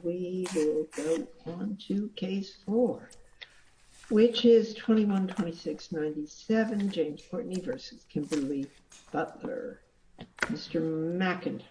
We will go on to case four, which is 21-26-97, James Courtney v. Kimberly Butler. Mr. McIntosh.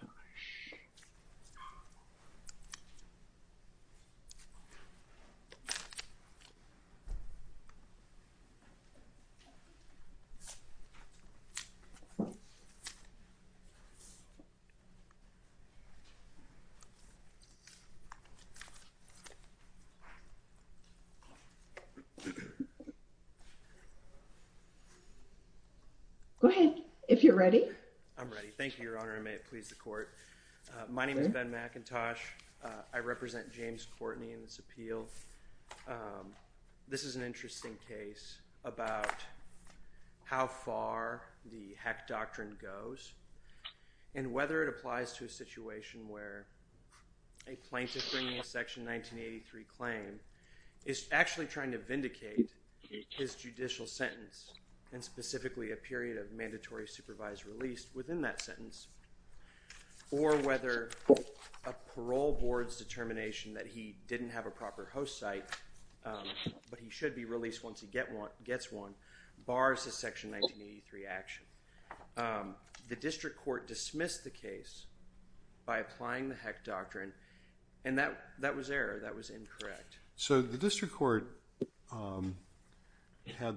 Go ahead, if you're ready. I'm ready. Thank you, Your Honor, and may it please the court. My name is Ben McIntosh. I represent James Courtney in this appeal. This is an interesting case about how far the hack doctrine goes and whether it applies to a situation where a plaintiff bringing a section 1983 claim is actually trying to vindicate his judicial sentence, and specifically a period of mandatory supervised release within that sentence, or whether a parole board's determination that he didn't have a proper host site, but he should be released once he gets one, bars the section 1983 action. The district court dismissed the case by applying the hack doctrine, and that was error. That was incorrect. So the district court had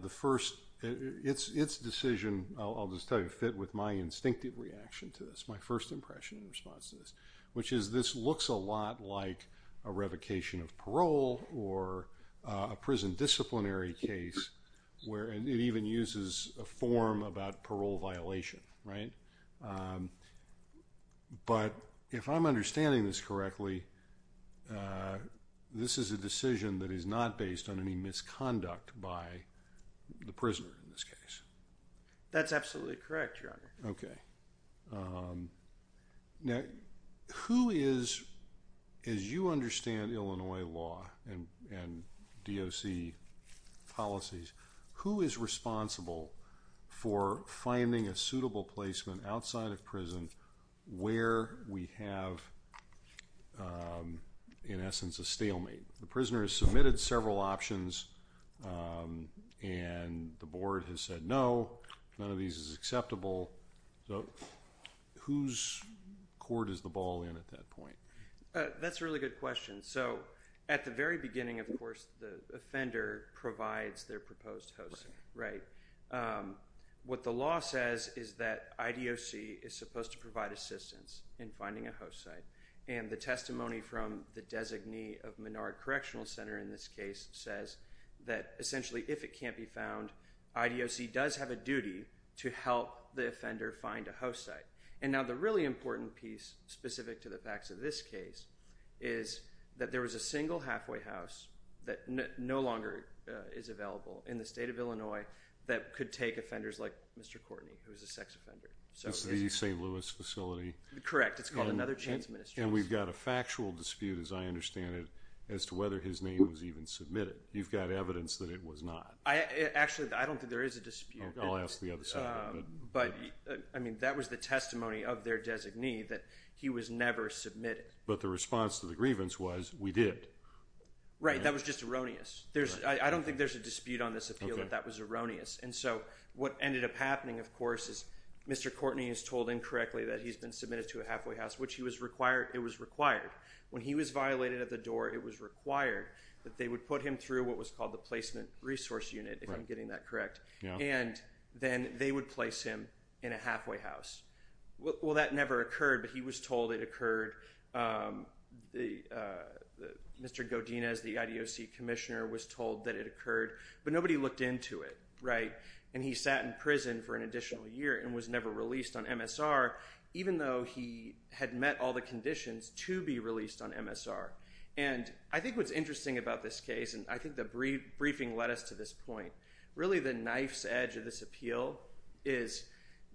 its decision, I'll just tell you, fit with my instinctive reaction to this, my first impression in response to this, which is this looks a lot like a revocation of parole or a prison disciplinary case where it even uses a form about parole violation, right? But if I'm understanding this correctly, this is a decision that is not based on any misconduct by the prisoner in this case. That's absolutely correct, Your Honor. Okay. Now, who is, as you understand Illinois law and DOC policies, who is responsible for finding a suitable placement outside of prison where we have, in essence, a stalemate? The prisoner has submitted several options, and the board has said no, none of these is acceptable. So whose court is the ball in at that point? That's a really good question. So at the very beginning, of course, the offender provides their proposed host site, right? What the law says is that IDOC is supposed to provide assistance in finding a host site, and the testimony from the designee of Menard Correctional Center in this case says that, essentially, if it can't be found, IDOC does have a duty to help the offender find a host site. And now the really important piece, specific to the facts of this case, is that there was a single halfway house that no longer is available in the state of Illinois that could take offenders like Mr. Courtney, who is a sex offender. It's the St. Louis facility? Correct. It's called Another Chance Ministries. And we've got a factual dispute, as I understand it, as to whether his name was even submitted. You've got evidence that it was not. Actually, I don't think there is a dispute. I'll ask the other side of it. That was the testimony of their designee that he was never submitted. But the response to the grievance was, we did. Right. That was just erroneous. I don't think there's a dispute on this appeal that that was erroneous. And so what ended up happening, of course, is Mr. Courtney is told incorrectly that he's been submitted to a halfway house, which it was required. When he was violated at the door, it was required that they would put him through what was called the placement resource unit, if I'm getting that correct. And then they would place him in a halfway house. Well, that never occurred, but he was told it occurred. Mr. Godinez, the IDOC commissioner, was told that it occurred, but nobody looked into it. And he sat in prison for an additional year and was never released on MSR, even though he had met all the conditions to be released on MSR. And I think what's interesting about this case, and I think the briefing led us to this point. Really, the knife's edge of this appeal is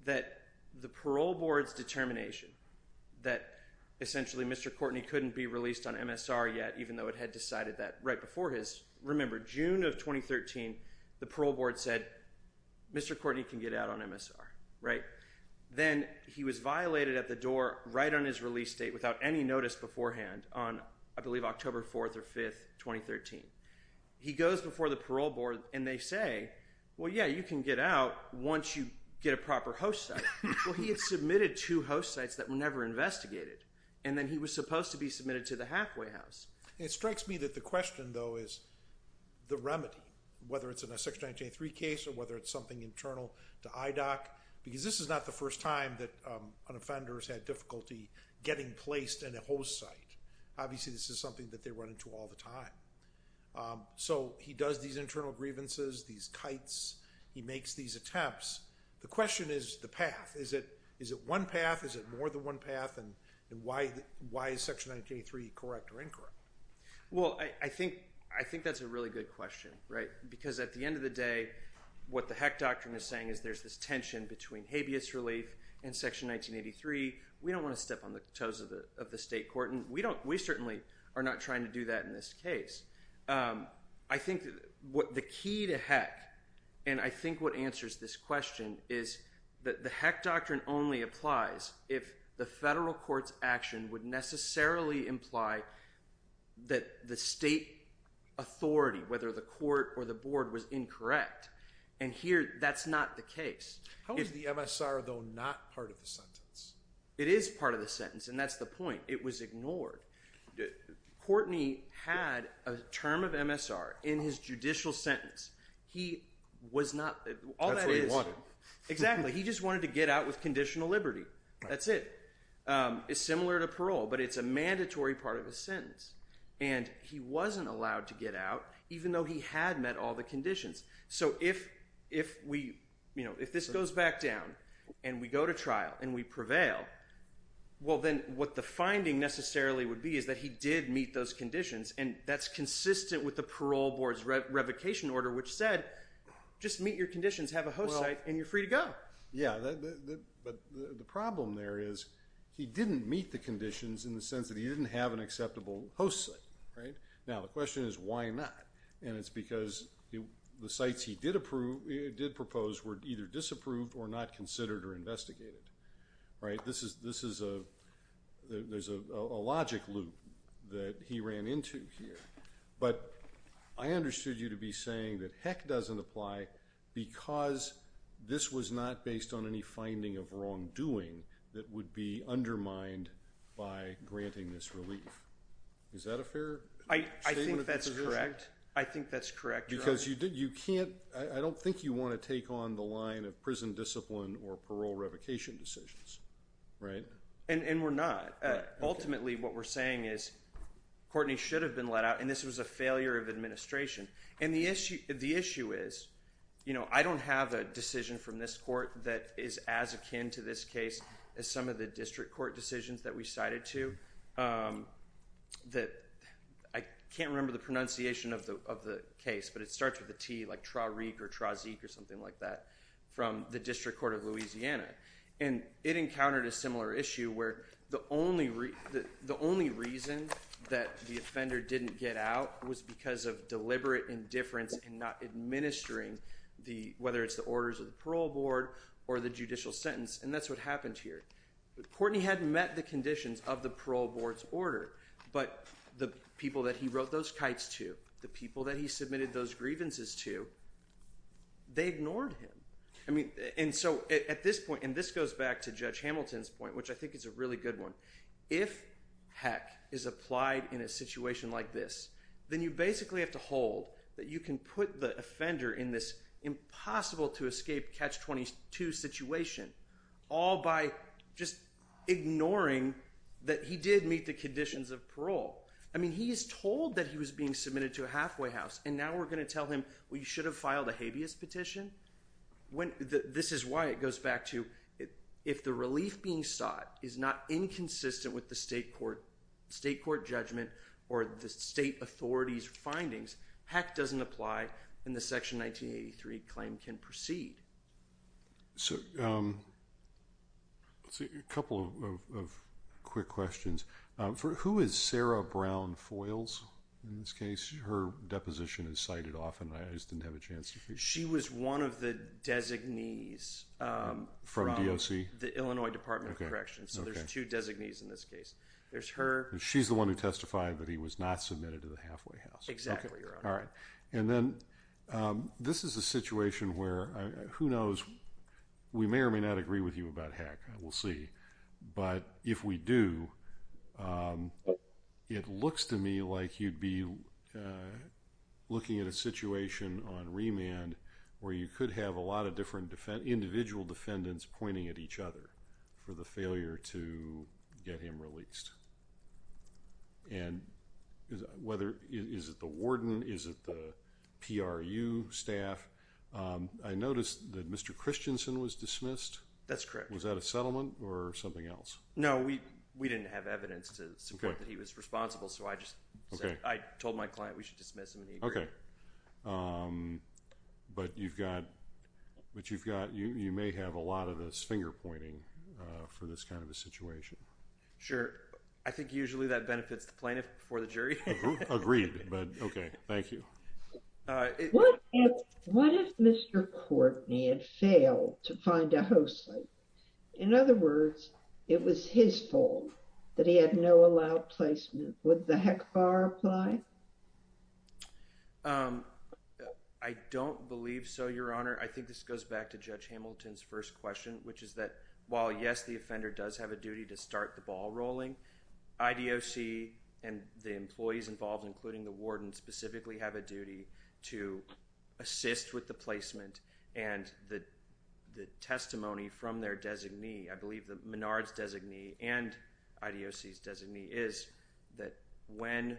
that the parole board's determination that, essentially, Mr. Courtney couldn't be released on MSR yet, even though it had decided that right before his. Remember, June of 2013, the parole board said, Mr. Courtney can get out on MSR, right? Then he was violated at the door right on his release date without any notice beforehand on, I believe, October 4th or 5th, 2013. He goes before the parole board and they say, well, yeah, you can get out once you get a proper host site. Well, he had submitted two host sites that were never investigated. And then he was supposed to be submitted to the halfway house. It strikes me that the question, though, is the remedy, whether it's in a Section 193 case or whether it's something internal to IDOC. Because this is not the first time that an offender has had difficulty getting placed in a host site. Obviously, this is something that they run into all the time. So he does these internal grievances, these kites. He makes these attempts. The question is the path. Is it one path? Is it more than one path? And why is Section 1983 correct or incorrect? Well, I think that's a really good question, right? Because at the end of the day, what the heck doctrine is saying is there's this tension between habeas relief and Section 1983. We don't want to step on the toes of the state court. And we certainly are not trying to do that in this case. I think the key to heck, and I think what answers this question, is that the heck doctrine only applies if the federal court's action would necessarily imply that the state authority, whether the court or the board, was incorrect. And here, that's not the case. How is the MSR, though, not part of the sentence? It is part of the sentence, and that's the point. It was ignored. Courtney had a term of MSR in his judicial sentence. He was not – all that is – That's what he wanted. Exactly. He just wanted to get out with conditional liberty. That's it. It's similar to parole, but it's a mandatory part of the sentence. And he wasn't allowed to get out even though he had met all the conditions. So if we – if this goes back down and we go to trial and we prevail, well, then what the finding necessarily would be is that he did meet those conditions. And that's consistent with the parole board's revocation order, which said just meet your conditions, have a host site, and you're free to go. Yeah, but the problem there is he didn't meet the conditions in the sense that he didn't have an acceptable host site. Now, the question is why not? And it's because the sites he did approve – did propose were either disapproved or not considered or investigated, right? This is a – there's a logic loop that he ran into here. But I understood you to be saying that heck doesn't apply because this was not based on any finding of wrongdoing that would be undermined by granting this relief. Is that a fair statement? I think that's correct. I think that's correct, Your Honor. Because you can't – I don't think you want to take on the line of prison discipline or parole revocation decisions, right? And we're not. Ultimately, what we're saying is Courtney should have been let out, and this was a failure of administration. And the issue is, you know, I don't have a decision from this court that is as akin to this case as some of the district court decisions that we cited to. I can't remember the pronunciation of the case, but it starts with a T, like Tra-reek or Tra-zeek or something like that from the District Court of Louisiana. And it encountered a similar issue where the only reason that the offender didn't get out was because of deliberate indifference in not administering the – whether it's the orders of the parole board or the judicial sentence. And that's what happened here. Courtney had met the conditions of the parole board's order, but the people that he wrote those kites to, the people that he submitted those grievances to, they ignored him. I mean – and so at this point – and this goes back to Judge Hamilton's point, which I think is a really good one. If heck is applied in a situation like this, then you basically have to hold that you can put the offender in this impossible-to-escape catch-22 situation all by just ignoring that he did meet the conditions of parole. I mean he is told that he was being submitted to a halfway house, and now we're going to tell him, well, you should have filed a habeas petition? This is why it goes back to if the relief being sought is not inconsistent with the state court judgment or the state authority's findings, heck doesn't apply and the Section 1983 claim can proceed. So a couple of quick questions. Who is Sarah Brown Foiles in this case? Her deposition is cited often. I just didn't have a chance to hear. She was one of the designees from the Illinois Department of Corrections. So there's two designees in this case. She's the one who testified that he was not submitted to the halfway house. Exactly. And then this is a situation where, who knows, we may or may not agree with you about heck. We'll see. But if we do, it looks to me like you'd be looking at a situation on remand where you could have a lot of different individual defendants pointing at each other for the failure to get him released. And whether, is it the warden? Is it the PRU staff? I noticed that Mr. Christensen was dismissed. That's correct. Was that a settlement or something else? No, we didn't have evidence to support that he was responsible. So I just said, I told my client we should dismiss him and he agreed. Okay. But you've got, you may have a lot of this finger pointing for this kind of a situation. Sure. I think usually that benefits the plaintiff before the jury. Agreed. Okay. Thank you. What if Mr. Courtney had failed to find a host site? In other words, it was his fault that he had no allowed placement. Would the HECFAR apply? I don't believe so, Your Honor. I think this goes back to Judge Hamilton's first question, which is that while, yes, the offender does have a duty to start the ball rolling, IDOC and the employees involved, including the warden, specifically have a duty to assist with the placement and the testimony from their designee. I believe the Menard's designee and IDOC's designee is that when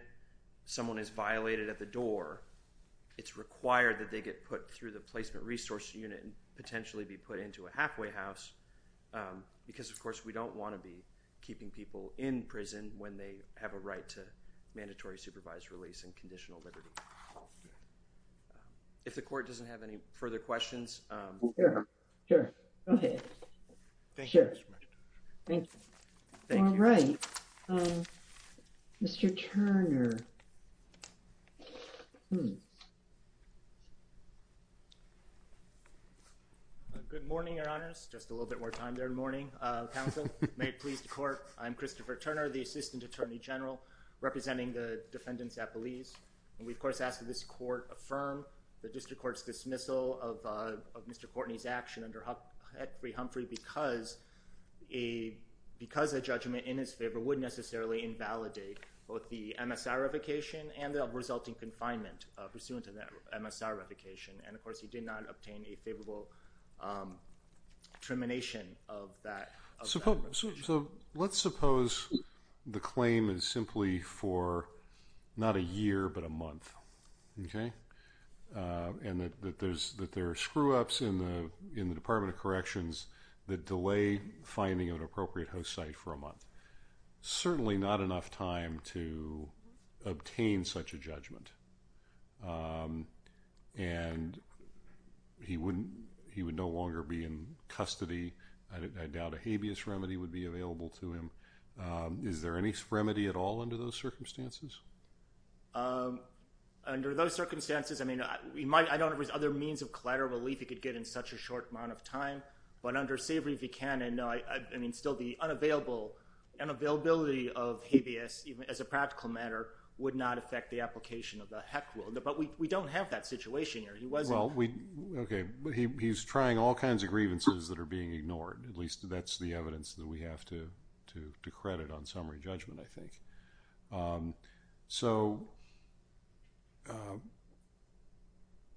someone is violated at the door, it's required that they get put through the placement resource unit and potentially be put into a halfway house. Because, of course, we don't want to be keeping people in prison when they have a right to mandatory supervised release and conditional liberty. If the court doesn't have any further questions. Sure. Sure. Go ahead. Thank you. All right. Mr. Turner. Good morning, Your Honors. Just a little bit more time there in the morning. May it please the court. I'm Christopher Turner, the Assistant Attorney General, representing the defendants at Belize. And we, of course, ask that this court affirm the district court's dismissal of Mr. Courtney's action under Huckabee Humphrey because a judgment in his favor would necessarily invalidate both the MSR revocation and the resulting confinement pursuant to that MSR revocation. And, of course, he did not obtain a favorable termination of that. So let's suppose the claim is simply for not a year but a month. Okay. And that there are screw-ups in the Department of Corrections that delay finding an appropriate host site for a month. Certainly not enough time to obtain such a judgment. And he would no longer be in custody. I doubt a habeas remedy would be available to him. Is there any remedy at all under those circumstances? Under those circumstances, I mean, I don't know if there's other means of collateral relief he could get in such a short amount of time. But under Savory v. Cannon, I mean, still the unavailability of habeas as a practical matter would not affect the application of the HEC rule. But we don't have that situation here. He wasn't— Well, okay. He's trying all kinds of grievances that are being ignored. At least that's the evidence that we have to credit on summary judgment, I think. So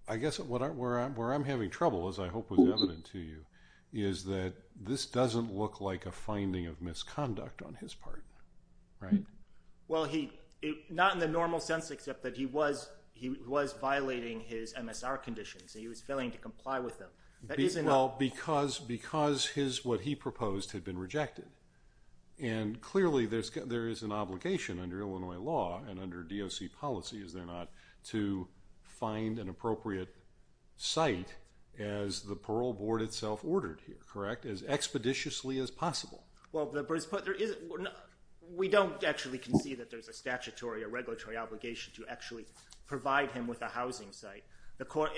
I guess where I'm having trouble, as I hope was evident to you, is that this doesn't look like a finding of misconduct on his part, right? Well, not in the normal sense, except that he was violating his MSR conditions. He was failing to comply with them. Well, because what he proposed had been rejected. And clearly, there is an obligation under Illinois law and under DOC policy, is there not, to find an appropriate site as the parole board itself ordered here, correct? As expeditiously as possible. Well, we don't actually concede that there's a statutory or regulatory obligation to actually provide him with a housing site.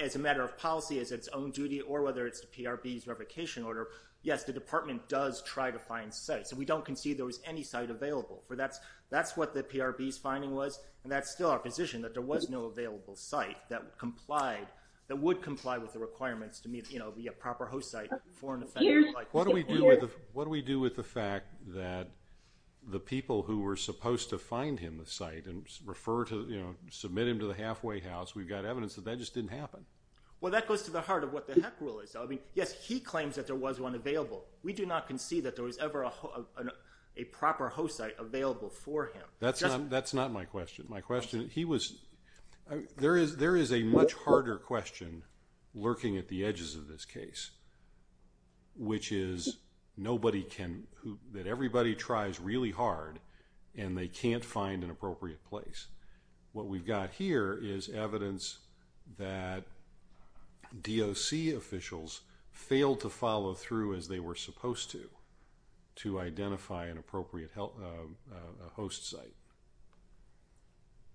As a matter of policy, as its own duty, or whether it's the PRB's revocation order, yes, the department does try to find sites. And we don't concede there was any site available. That's what the PRB's finding was, and that's still our position, that there was no available site that would comply with the requirements to be a proper host site for an offender. What do we do with the fact that the people who were supposed to find him the site and refer to, you know, submit him to the halfway house, we've got evidence that that just didn't happen. Well, that goes to the heart of what the heck rule is. I mean, yes, he claims that there was one available. We do not concede that there was ever a proper host site available for him. That's not my question. My question, he was, there is a much harder question lurking at the edges of this case, which is nobody can, that everybody tries really hard and they can't find an appropriate place. What we've got here is evidence that DOC officials failed to follow through as they were supposed to, to identify an appropriate host site.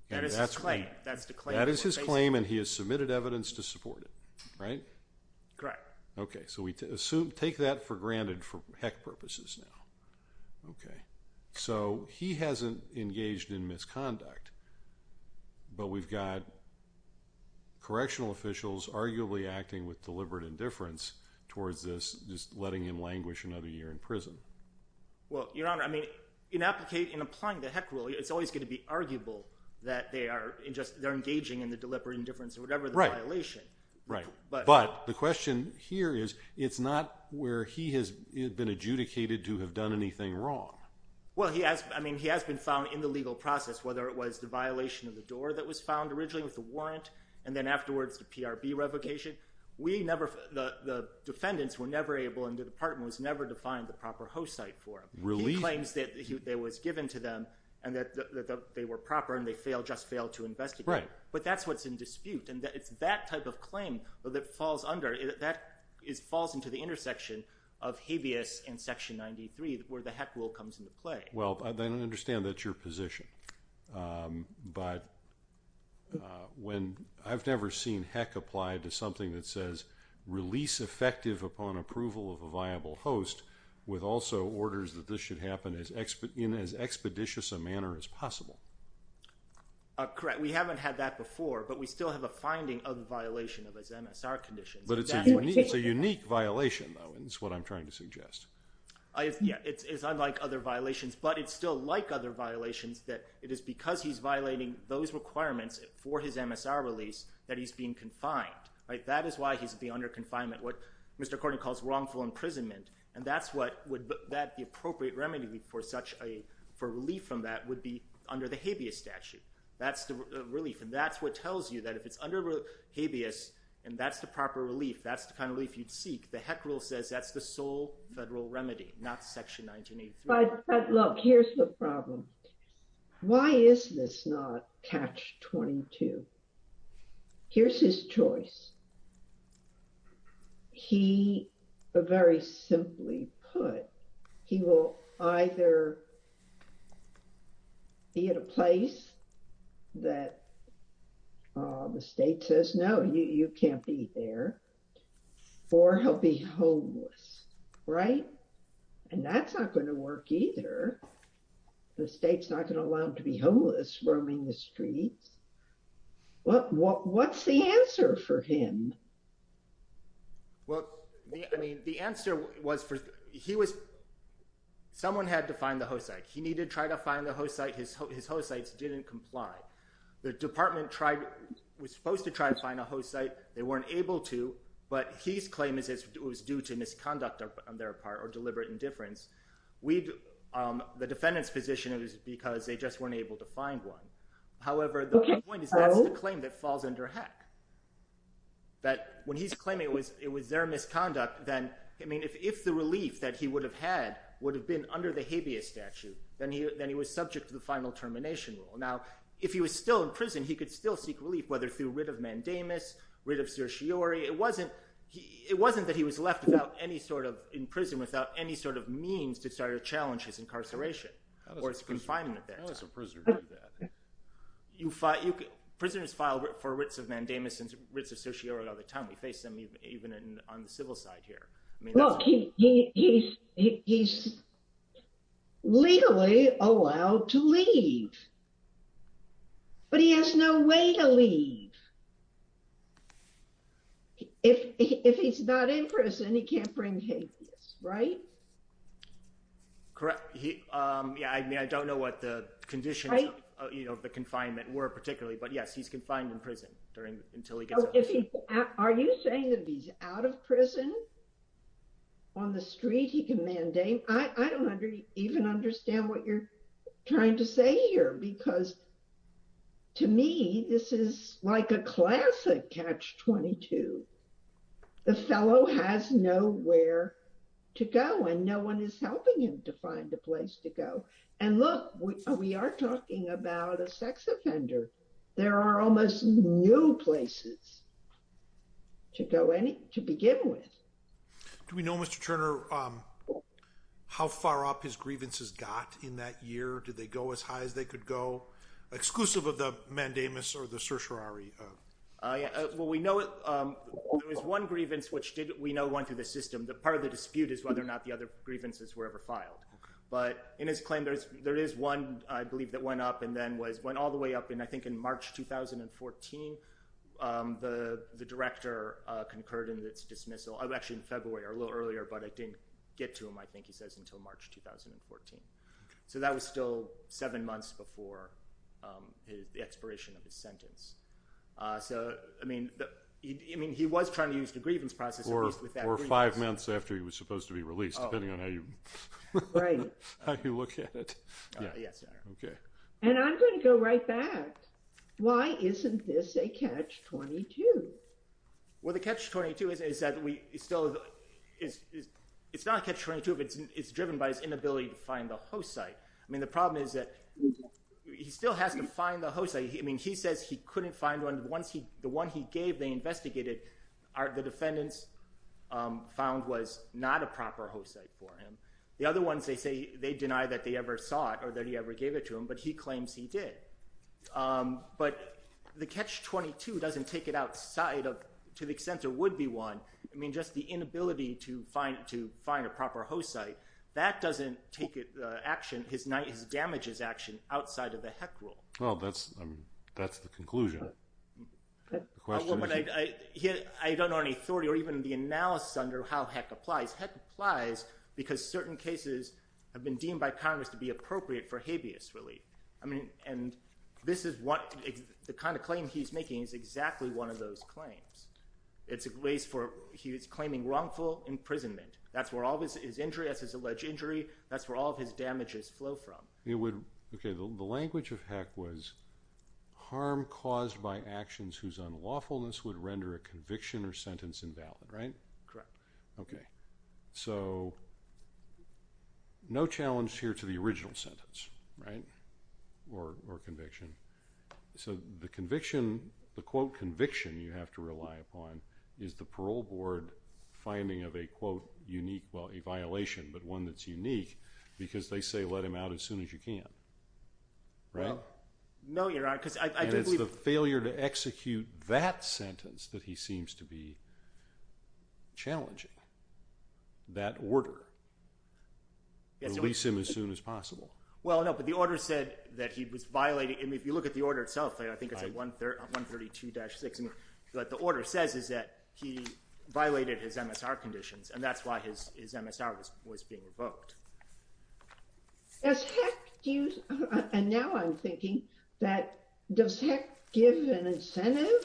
That is his claim. That is his claim and he has submitted evidence to support it, right? Correct. Okay, so we take that for granted for heck purposes now. Okay, so he hasn't engaged in misconduct, but we've got correctional officials arguably acting with deliberate indifference towards this, just letting him languish another year in prison. Well, Your Honor, I mean, in applying the heck rule, it's always going to be arguable that they are engaging in the deliberate indifference or whatever violation. But the question here is, it's not where he has been adjudicated to have done anything wrong. Well, he has, I mean, he has been found in the legal process, whether it was the violation of the door that was found originally with the warrant and then afterwards the PRB revocation. We never, the defendants were never able and the department was never defined the proper host site for him. He claims that it was given to them and that they were proper and they just failed to investigate. Right. But that's what's in dispute and it's that type of claim that falls under, that falls into the intersection of habeas and Section 93 where the heck rule comes into play. Well, I don't understand that's your position, but when, I've never seen heck applied to something that says release effective upon approval of a viable host with also orders that this should happen in as expeditious a manner as possible. Correct. We haven't had that before, but we still have a finding of the violation of his MSR conditions. But it's a unique violation though, is what I'm trying to suggest. Yeah, it's unlike other violations, but it's still like other violations that it is because he's violating those requirements for his MSR release that he's being confined. Right. That is why he's being under confinement, what Mr. Cornyn calls wrongful imprisonment. And that's what would that be appropriate remedy for such a, for relief from that would be under the habeas statute. That's the relief. And that's what tells you that if it's under habeas and that's the proper relief, that's the kind of relief you'd seek. The heck rule says that's the sole federal remedy, not Section 1983. But look, here's the problem. Why is this not catch 22? Here's his choice. He, very simply put, he will either be at a place that the state says, no, you can't be there, or he'll be homeless. Right. And that's not going to work either. The state's not going to allow him to be homeless roaming the streets. What's the answer for him? Well, I mean, the answer was for, he was, someone had to find the host site. He needed to try to find the host site. His host sites didn't comply. The department tried, was supposed to try to find a host site. They weren't able to, but his claim is it was due to misconduct on their part or deliberate indifference. The defendant's position is because they just weren't able to find one. However, the point is that's the claim that falls under heck. That when he's claiming it was their misconduct, then, I mean, if the relief that he would have had would have been under the habeas statute, then he was subject to the final termination rule. Now, if he was still in prison, he could still seek relief, whether through writ of mandamus, writ of certiorari. It wasn't, it wasn't that he was left without any sort of, in prison without any sort of means to try to challenge his incarceration or his confinement there. Prisoners file for writs of mandamus and writs of certiorari all the time. We face them even on the civil side here. He's legally allowed to leave, but he has no way to leave. If he's not in prison, he can't bring habeas, right? Correct. Yeah, I mean, I don't know what the conditions of the confinement were particularly, but yes, he's confined in prison until he gets out. Are you saying that he's out of prison? On the street, he can mandate. I don't even understand what you're trying to say here, because to me, this is like a classic catch-22. The fellow has nowhere to go and no one is helping him to find a place to go. And look, we are talking about a sex offender. There are almost no places to go to begin with. Do we know, Mr. Turner, how far up his grievances got in that year? Did they go as high as they could go, exclusive of the mandamus or the certiorari? Well, we know it was one grievance, which we know went through the system. Part of the dispute is whether or not the other grievances were ever filed. But in his claim, there is one, I believe, that went up and then went all the way up. I think in March 2014, the director concurred in its dismissal. Actually, in February or a little earlier, but I didn't get to him, I think he says, until March 2014. So that was still seven months before the expiration of his sentence. I mean, he was trying to use the grievance process. Or five months after he was supposed to be released, depending on how you look at it. And I'm going to go right back. Why isn't this a catch-22? Well, the catch-22 is that it's not a catch-22, but it's driven by his inability to find the host site. I mean, the problem is that he still has to find the host site. I mean, he says he couldn't find one. The one he gave, they investigated, the defendants found was not a proper host site for him. The other ones, they say they deny that they ever saw it or that he ever gave it to them, but he claims he did. But the catch-22 doesn't take it outside of, to the extent it would be one. I mean, just the inability to find a proper host site, that doesn't take action, his damages action, outside of the HEC rule. Well, that's the conclusion. I don't know any authority or even the analysis under how HEC applies. HEC applies because certain cases have been deemed by Congress to be appropriate for habeas relief. I mean, and this is what – the kind of claim he's making is exactly one of those claims. It's a case for – he's claiming wrongful imprisonment. That's where all of his injury, that's his alleged injury, that's where all of his damages flow from. It would – okay, the language of HEC was harm caused by actions whose unlawfulness would render a conviction or sentence invalid, right? Correct. Okay. So no challenge here to the original sentence, right, or conviction. So the conviction, the, quote, conviction you have to rely upon is the parole board finding of a, quote, unique – well, a violation, but one that's unique because they say let him out as soon as you can, right? No, Your Honor, because I do believe – And it's the failure to execute that sentence that he seems to be challenging, that order. Release him as soon as possible. Well, no, but the order said that he was violating – I mean, if you look at the order itself, I think it's at 132-6. And what the order says is that he violated his MSR conditions, and that's why his MSR was being revoked. As HEC – and now I'm thinking that does HEC give an incentive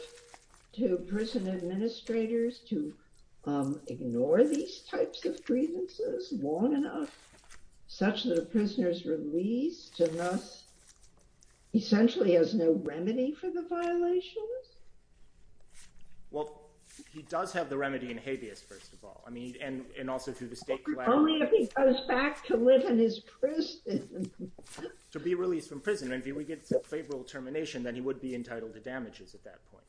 to prison administrators to ignore these types of grievances long enough, such that a prisoner is released and thus essentially has no remedy for the violations? Well, he does have the remedy in habeas, first of all. I mean, and also through the state – Only if he goes back to live in his prison. To be released from prison. And if he gets a favorable termination, then he would be entitled to damages at that point.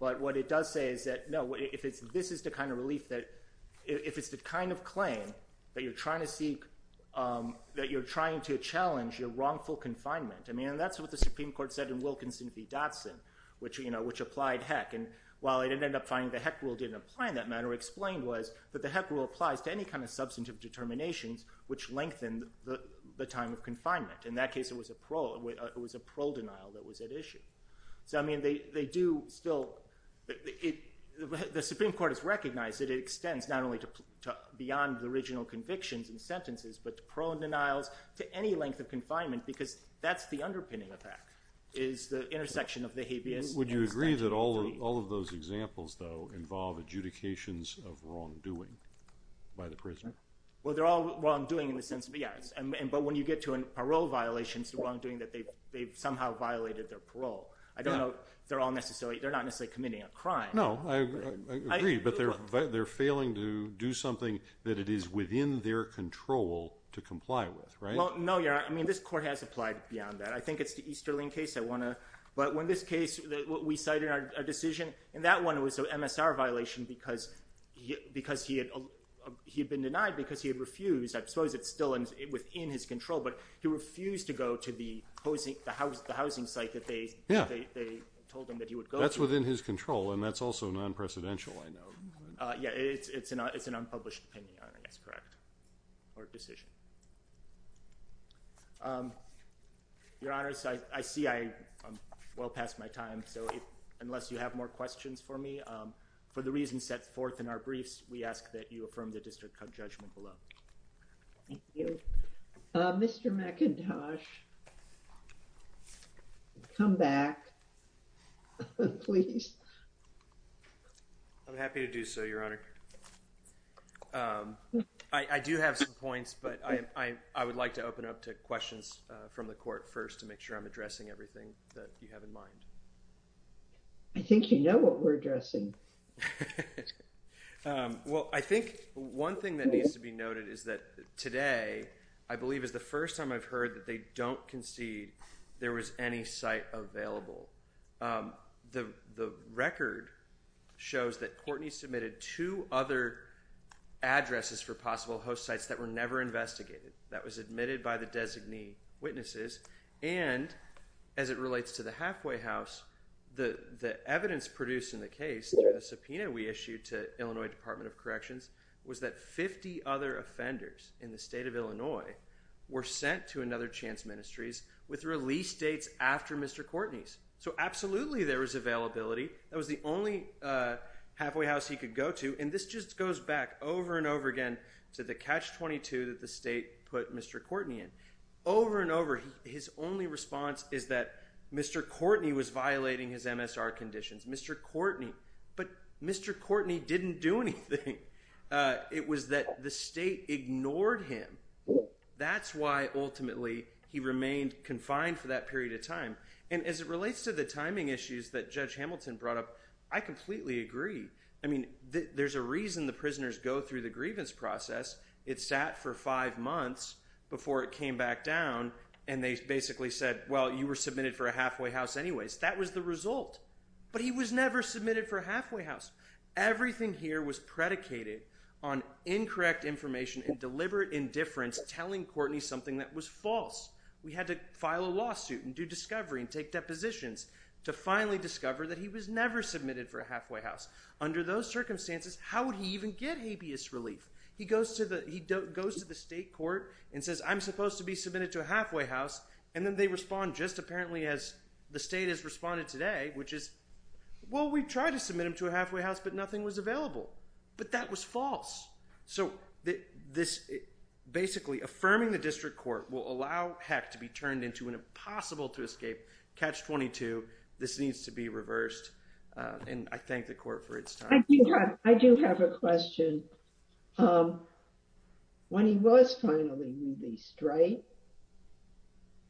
But what it does say is that, no, if it's – this is the kind of relief that – if it's the kind of claim that you're trying to seek – that you're trying to challenge your wrongful confinement. I mean, and that's what the Supreme Court said in Wilkinson v. Dotson, which applied HEC. And while it ended up finding the HEC rule didn't apply in that matter, what it explained was that the HEC rule applies to any kind of substantive determinations which lengthen the time of confinement. In that case, it was a parole denial that was at issue. So, I mean, they do still – the Supreme Court has recognized that it extends not only to beyond the original convictions and sentences, but to parole denials, to any length of confinement because that's the underpinning of that is the intersection of the habeas. Would you agree that all of those examples, though, involve adjudications of wrongdoing by the prisoner? Well, they're all wrongdoing in the sense – yes. But when you get to a parole violation, it's wrongdoing that they've somehow violated their parole. I don't know – they're all necessarily – they're not necessarily committing a crime. No, I agree, but they're failing to do something that it is within their control to comply with, right? Well, no, Your Honor. I mean, this court has applied beyond that. I think it's the Easterling case. I want to – but when this case – we cited a decision, and that one was an MSR violation because he had been denied because he had refused. I suppose it's still within his control, but he refused to go to the housing site that they told him that he would go to. That's within his control, and that's also non-precedential, I know. Yeah, it's an unpublished opinion, Your Honor. That's correct. Court decision. Your Honors, I see I'm well past my time, so unless you have more questions for me, for the reasons set forth in our briefs, we ask that you affirm the district court judgment below. Thank you. Mr. McIntosh, come back, please. I'm happy to do so, Your Honor. I do have some points, but I would like to open up to questions from the court first to make sure I'm addressing everything that you have in mind. I think you know what we're addressing. Well, I think one thing that needs to be noted is that today, I believe, is the first time I've heard that they don't concede there was any site available. The record shows that Courtney submitted two other addresses for possible host sites that were never investigated. That was admitted by the designee witnesses, and as it relates to the halfway house, the evidence produced in the case, the subpoena we issued to Illinois Department of Corrections, was that 50 other offenders in the state of Illinois were sent to another Chance Ministries with release dates after Mr. Courtney's. So absolutely there is availability. That was the only halfway house he could go to. And this just goes back over and over again to the catch 22 that the state put Mr. Courtney in over and over. His only response is that Mr. Courtney was violating his MSR conditions. Mr. Courtney. But Mr. Courtney didn't do anything. It was that the state ignored him. That's why ultimately he remained confined for that period of time. And as it relates to the timing issues that Judge Hamilton brought up, I completely agree. I mean, there's a reason the prisoners go through the grievance process. It sat for five months before it came back down and they basically said, well, you were submitted for a halfway house anyways. That was the result. But he was never submitted for halfway house. Everything here was predicated on incorrect information and deliberate indifference, telling Courtney something that was false. We had to file a lawsuit and do discovery and take depositions to finally discover that he was never submitted for a halfway house. Under those circumstances, how would he even get habeas relief? He goes to the he goes to the state court and says, I'm supposed to be submitted to a halfway house. And then they respond just apparently as the state has responded today, which is. Well, we tried to submit him to a halfway house, but nothing was available. But that was false. So this basically affirming the district court will allow heck to be turned into an impossible to escape catch 22. This needs to be reversed. And I thank the court for its time. I do have a question. When he was finally released, right.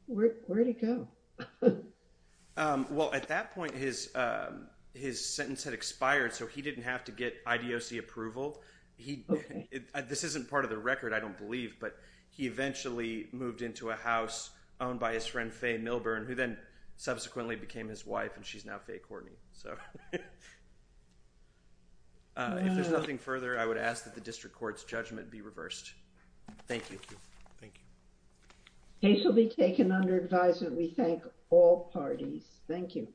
Where did he go? Well, at that point, his his sentence had expired, so he didn't have to get IDOC approval. He this isn't part of the record, I don't believe. But he eventually moved into a house owned by his friend, Faye Milburn, who then subsequently became his wife. And she's now Faye Courtney. So. If there's nothing further, I would ask that the district court's judgment be reversed. Thank you. Thank you. He shall be taken under advisement. We thank all parties. Thank you.